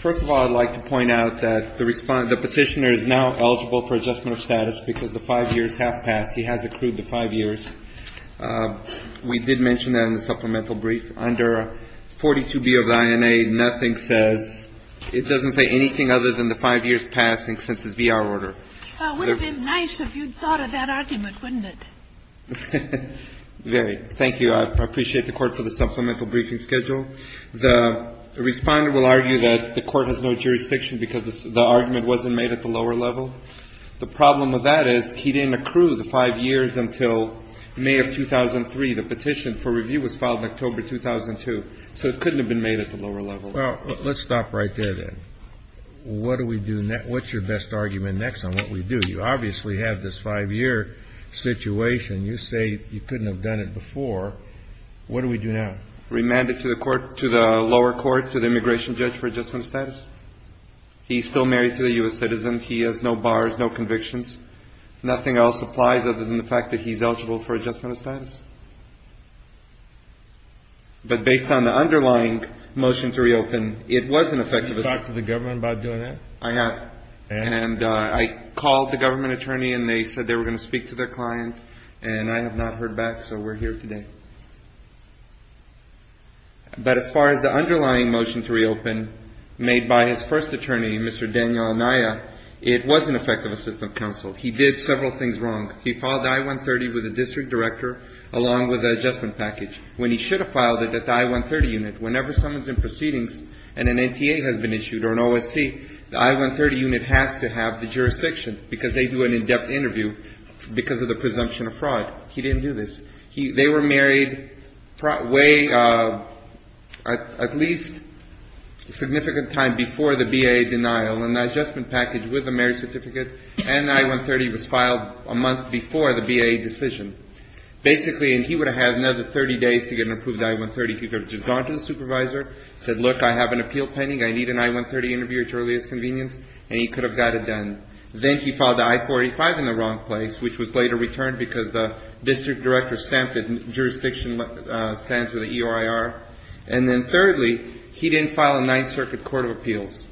First of all, I'd like to point out that the petitioner is now eligible for adjustment of status because the five years have passed. He has accrued the five years. We did mention that in the supplemental brief. Under 42B of the INA, nothing says, it doesn't say anything other than the five years passing since his VR order. Well, it would have been nice if you'd thought of that argument, wouldn't it? Very. Thank you. I appreciate the court for the supplemental briefing schedule. The respondent will argue that the court has no jurisdiction because the argument wasn't made at the lower level. The problem with that is he didn't accrue the five years until May of 2003. The petition for review was filed in October 2002, so it couldn't have been made at the lower level. Well, let's stop right there, then. What do we do next? What's your best argument next on what we do? You obviously have this five-year situation. You say you couldn't have done it before. What do we do now? Remand it to the lower court, to the immigration judge, for adjustment of status. He's still married to a U.S. citizen. He has no bars, no convictions. Nothing else applies other than the fact that he's eligible for adjustment of status. But based on the underlying motion to reopen, it wasn't effective. Have you talked to the government about doing that? I have. And I called the government attorney, and they said they were going to speak to their client, and I have not heard back, so we're here today. But as far as the underlying motion to reopen made by his first attorney, Mr. Daniel Anaya, it was an effect of assistance of counsel. He did several things wrong. He filed I-130 with the district director, along with the adjustment package. When he should have filed it at the I-130 unit, whenever someone's in proceedings and an NTA has been issued or an OSC, the I-130 unit has to have the jurisdiction, because they do an in-depth interview because of the presumption of fraud. He didn't do this. They were married at least significant time before the BAA denial, and the adjustment package with the marriage certificate and the I-130 was filed a month before the BAA decision. Basically, and he would have had another 30 days to get an approved I-130. If he could have just gone to the supervisor and said, look, I have an appeal pending. I need an I-130 interview at your earliest convenience, and he could have got it done. Then he filed the I-485 in the wrong place, which was later returned because the district director stamped it in jurisdiction stands with the EOIR. And then thirdly, he didn't file a Ninth Circuit Court of Appeals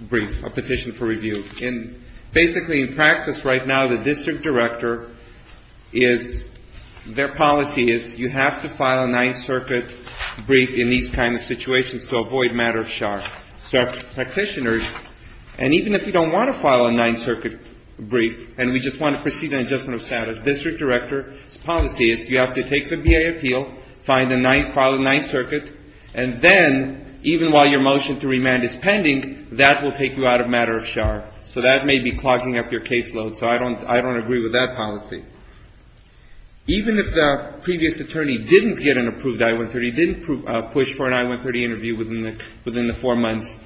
brief, a petition for review. And basically in practice right now, the district director is, their policy is you have to file a Ninth Circuit brief in these kind of situations to avoid matter of char. So practitioners, and even if you don't want to file a Ninth Circuit brief, and we just want to proceed on adjustment of status, district director's policy is you have to take the BAA appeal, find a Ninth, file a Ninth Circuit, and then even while your motion to remand is pending, that will take you out of matter of char. So that may be clogging up your caseload. So I don't agree with that policy. Even if the previous attorney didn't get an approved I-130, didn't push for an I-130 interview within the four months,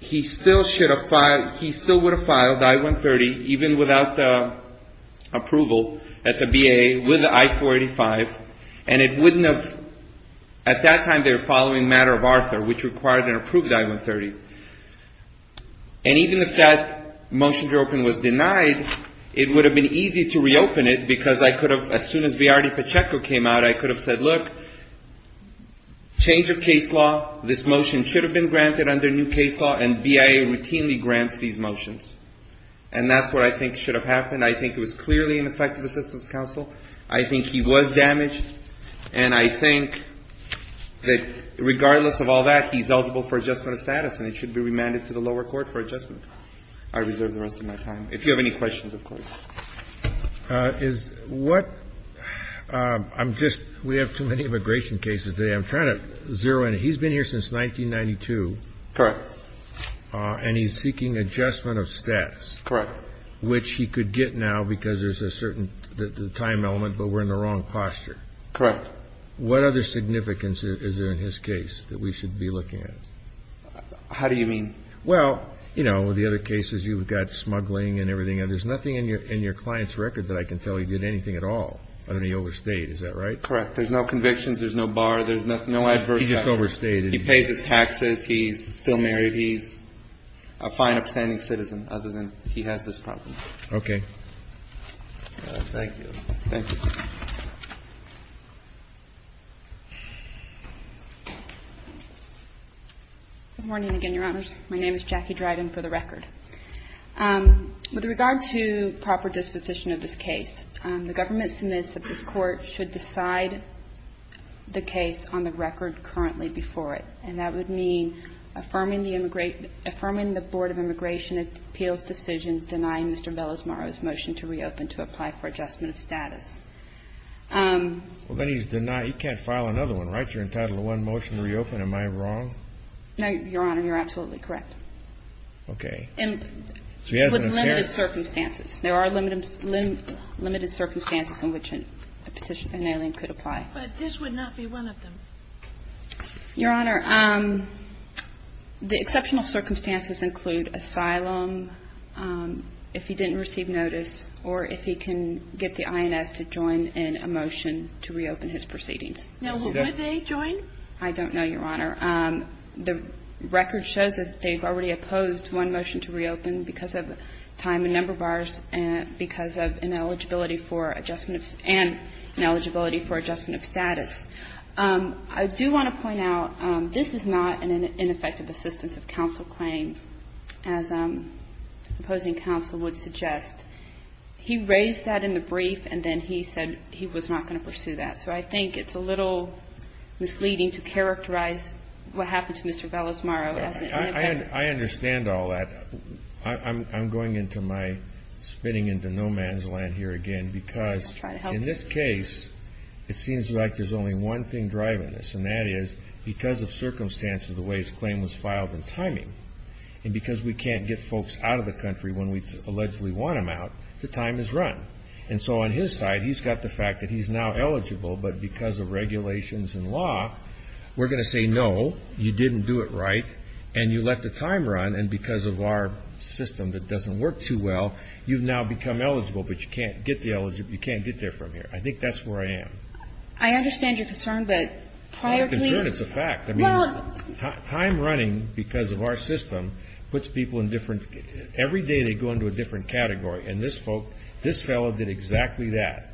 he still should have filed, he still would have filed I-130 even without the approval at the BAA with the I-485, and it wouldn't have, at that time they were following matter of Arthur, which required an approved I-130. And even if that motion to reopen was denied, it would have been easy to reopen it because I could have, as soon as Viardi-Pacheco came out, I could have said, look, change of case law, this motion should have been granted under new case law, and BAA routinely grants these motions. And that's what I think should have happened. I think it was clearly ineffective assistance counsel. I think he was damaged, and I think that regardless of all that, he's eligible for adjustment of status, and it should be remanded to the lower court for adjustment. I reserve the rest of my time. If you have any questions, of course. Is what – I'm just – we have too many immigration cases today. I'm trying to zero in. He's been here since 1992. Correct. And he's seeking adjustment of status. Correct. Which he could get now because there's a certain time element, but we're in the wrong posture. Correct. What other significance is there in his case that we should be looking at? How do you mean? Well, you know, the other cases you've got smuggling and everything. There's nothing in your client's record that I can tell he did anything at all. I mean, he overstayed. Is that right? Correct. There's no convictions. There's no bar. There's no adverse effect. He just overstayed. He pays his taxes. He's still married. He's a fine, upstanding citizen other than he has this problem. Okay. Thank you. Thank you. Good morning again, Your Honors. My name is Jackie Dryden for the Record. With regard to proper disposition of this case, the government submits that this Court should decide the case on the record currently before it, and that would mean affirming the Board of Immigration Appeals decision denying Mr. Bellos-Moros' motion to reopen to apply for adjustment of status. Well, then he's denied. He can't file another one, right? You're entitled to one motion to reopen. Am I wrong? No, Your Honor. You're absolutely correct. Okay. And with limited circumstances. There are limited circumstances in which a petition, an alien could apply. But this would not be one of them. Your Honor, the exceptional circumstances include asylum, if he didn't receive notice, or if he can get the INS to join in a motion to reopen his proceedings. Now, would they join? I don't know, Your Honor. The record shows that they've already opposed one motion to reopen because of time and number bars and because of ineligibility for adjustment of status. And ineligibility for adjustment of status. I do want to point out, this is not an ineffective assistance of counsel claim, as opposing counsel would suggest. He raised that in the brief, and then he said he was not going to pursue that. So I think it's a little misleading to characterize what happened to Mr. Velazmaro as an ineffectual. I understand all that. I'm going into my spitting into no man's land here again because in this case, it seems like there's only one thing driving this, and that is because of circumstances the way his claim was filed and timing, and because we can't get folks out of the country when we allegedly want them out, the time has run. And so on his side, he's got the fact that he's now eligible, but because of regulations and law, we're going to say, no, you didn't do it right, and you let the time run, and because of our system that doesn't work too well, you've now become eligible, but you can't get the eligible, you can't get there from here. I think that's where I am. I understand your concern, but prior to the ---- Well, the concern is a fact. I mean, time running because of our system puts people in different ---- every day they go into a different category, and this folk, this fellow did exactly that.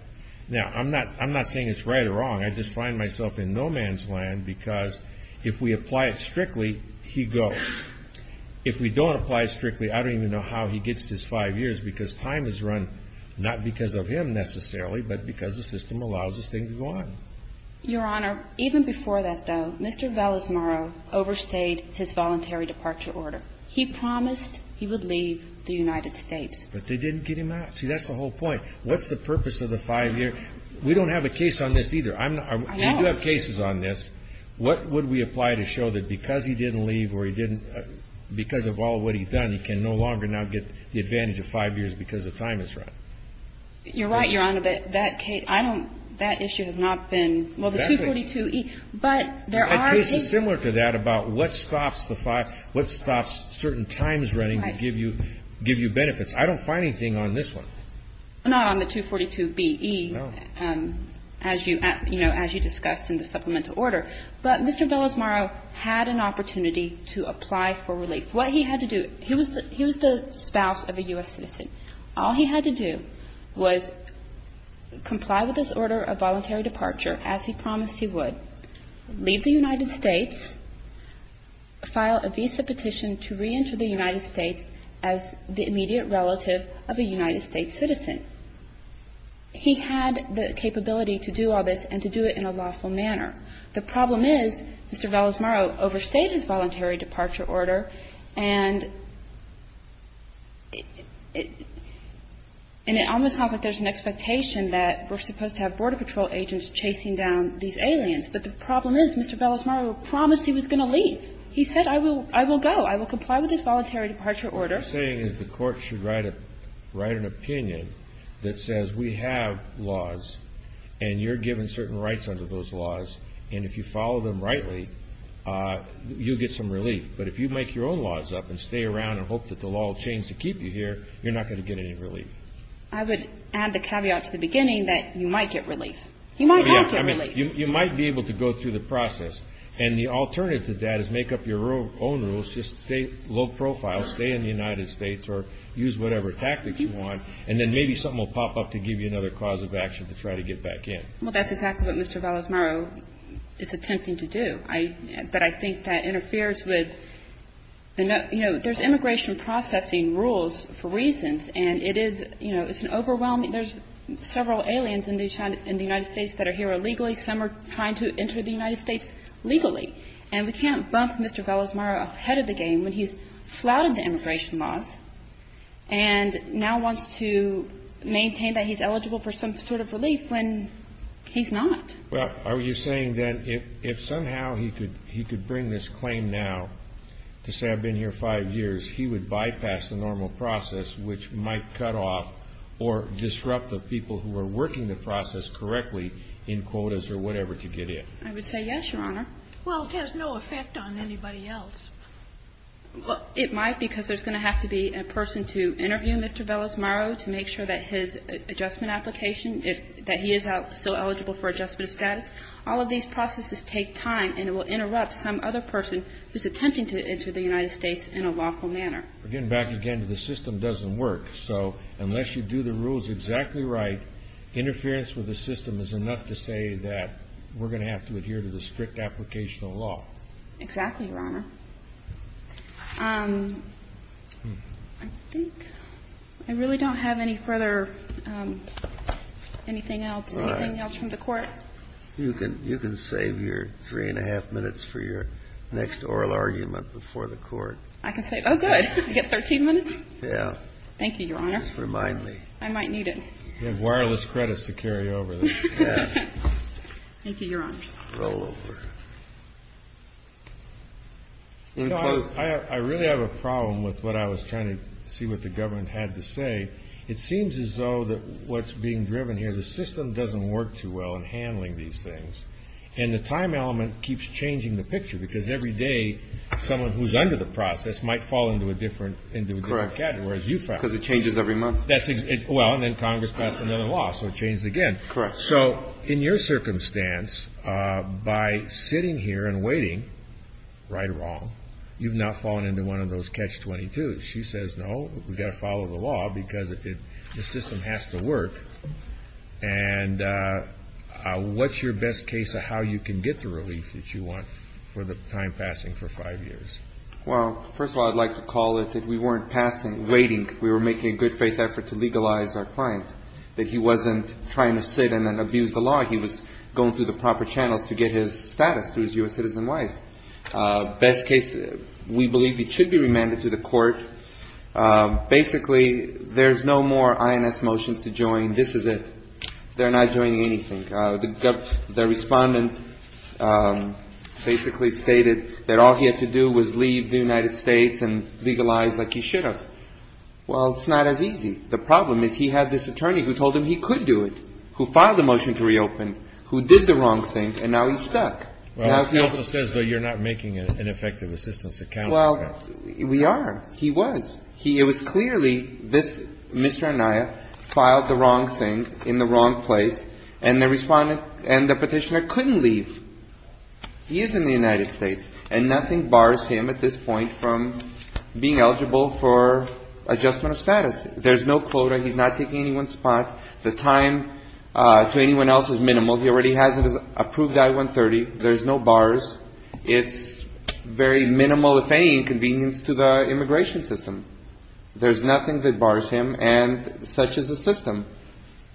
Now, I'm not saying it's right or wrong. I just find myself in no man's land because if we apply it strictly, he goes. If we don't apply it strictly, I don't even know how he gets his five years because time has run, not because of him necessarily, but because the system allows this thing to go on. Your Honor, even before that, though, Mr. Velesmaro overstayed his voluntary departure order. He promised he would leave the United States. But they didn't get him out. See, that's the whole point. What's the purpose of the five years? We don't have a case on this either. I'm not ---- I know. We do have cases on this. What would we apply to show that because he didn't leave or he didn't ---- because of all of what he's done, he can no longer now get the advantage of five years because the time has run? You're right, Your Honor, that case ---- I don't ---- that issue has not been ---- Well, the 242E, but there are ---- It's very similar to that about what stops the five, what stops certain times running to give you benefits. I don't find anything on this one. Not on the 242BE, as you discussed in the supplemental order. But Mr. Velesmaro had an opportunity to apply for relief. What he had to do, he was the spouse of a U.S. citizen. All he had to do was comply with his order of voluntary departure, as he promised he would, leave the United States, file a visa petition to reenter the United States as the immediate relative of a United States citizen. He had the capability to do all this and to do it in a lawful manner. The problem is Mr. Velesmaro overstayed his voluntary departure order, and it almost sounds like there's an expectation that we're supposed to have Border Patrol agents chasing down these aliens. But the problem is Mr. Velesmaro promised he was going to leave. He said, I will go. I will comply with this voluntary departure order. What you're saying is the Court should write an opinion that says we have laws, and you're given certain rights under those laws, and if you follow them rightly, you'll get some relief. But if you make your own laws up and stay around and hope that the law will change to keep you here, you're not going to get any relief. I would add the caveat to the beginning that you might get relief. You might not get relief. You might be able to go through the process. And the alternative to that is make up your own rules, just stay low profile, stay in the United States, or use whatever tactics you want, and then maybe something will pop up to give you another cause of action to try to get back in. Well, that's exactly what Mr. Velesmaro is attempting to do. But I think that interferes with the note. You know, there's immigration processing rules for reasons, and it is, you know, it's overwhelming. There's several aliens in the United States that are here illegally. Some are trying to enter the United States legally. And we can't bump Mr. Velesmaro ahead of the game when he's flouted the immigration laws and now wants to maintain that he's eligible for some sort of relief when he's not. Well, are you saying then if somehow he could bring this claim now to say I've been here five years, he would bypass the normal process, which might cut off or disrupt the people who are working the process correctly in quotas or whatever to get in? I would say yes, Your Honor. Well, it has no effect on anybody else. Well, it might because there's going to have to be a person to interview Mr. Velesmaro to make sure that his adjustment application, that he is still eligible for adjustment of status. All of these processes take time, and it will interrupt some other person who's in the United States in a lawful manner. Again, back again to the system doesn't work. So unless you do the rules exactly right, interference with the system is enough to say that we're going to have to adhere to the strict application of the law. Exactly, Your Honor. I think I really don't have any further anything else. Anything else from the Court? You can save your three and a half minutes for your next oral argument before the Court. I can say, oh, good. I get 13 minutes? Yeah. Thank you, Your Honor. Just remind me. I might need it. You have wireless credits to carry over. Thank you, Your Honor. Roll over. I really have a problem with what I was trying to see what the government had to say. It seems as though that what's being driven here, the system doesn't work too well in handling these things. And the time element keeps changing the picture because every day someone who's under the process might fall into a different category. Correct. Because it changes every month. Well, and then Congress passed another law, so it changed again. Correct. So in your circumstance, by sitting here and waiting, right or wrong, you've now fallen into one of those catch-22s. She says, no, we've got to follow the law because the system has to work. And what's your best case of how you can get the relief that you want for the time passing for five years? Well, first of all, I'd like to call it that we weren't passing, waiting. We were making a good faith effort to legalize our client, that he wasn't trying to sit in and abuse the law. He was going through the proper channels to get his status to his U.S. citizen wife. Best case, we believe he should be remanded to the court. Basically, there's no more INS motions to join. This is it. They're not joining anything. The respondent basically stated that all he had to do was leave the United States and legalize like he should have. Well, it's not as easy. The problem is he had this attorney who told him he could do it, who filed the motion to reopen, who did the wrong thing, and now he's stuck. Well, he also says that you're not making an effective assistance account. Well, we are. He was. It was clearly this Mr. Anaya filed the wrong thing in the wrong place, and the petitioner couldn't leave. He is in the United States, and nothing bars him at this point from being eligible for adjustment of status. There's no quota. He's not taking anyone's spot. The time to anyone else is minimal. He already has an approved I-130. There's no bars. It's very minimal, if any, inconvenience to the immigration system. There's nothing that bars him, and such is the system.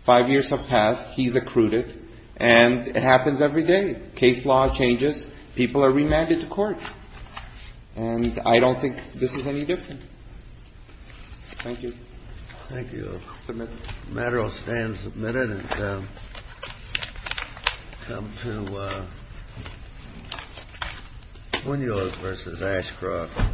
Five years have passed. He's accrued it, and it happens every day. Case law changes. People are remanded to court. And I don't think this is any different. Thank you. Thank you. The matter will stand submitted and come to Wynjaus v. Ashcroft. Thank you. Thank you.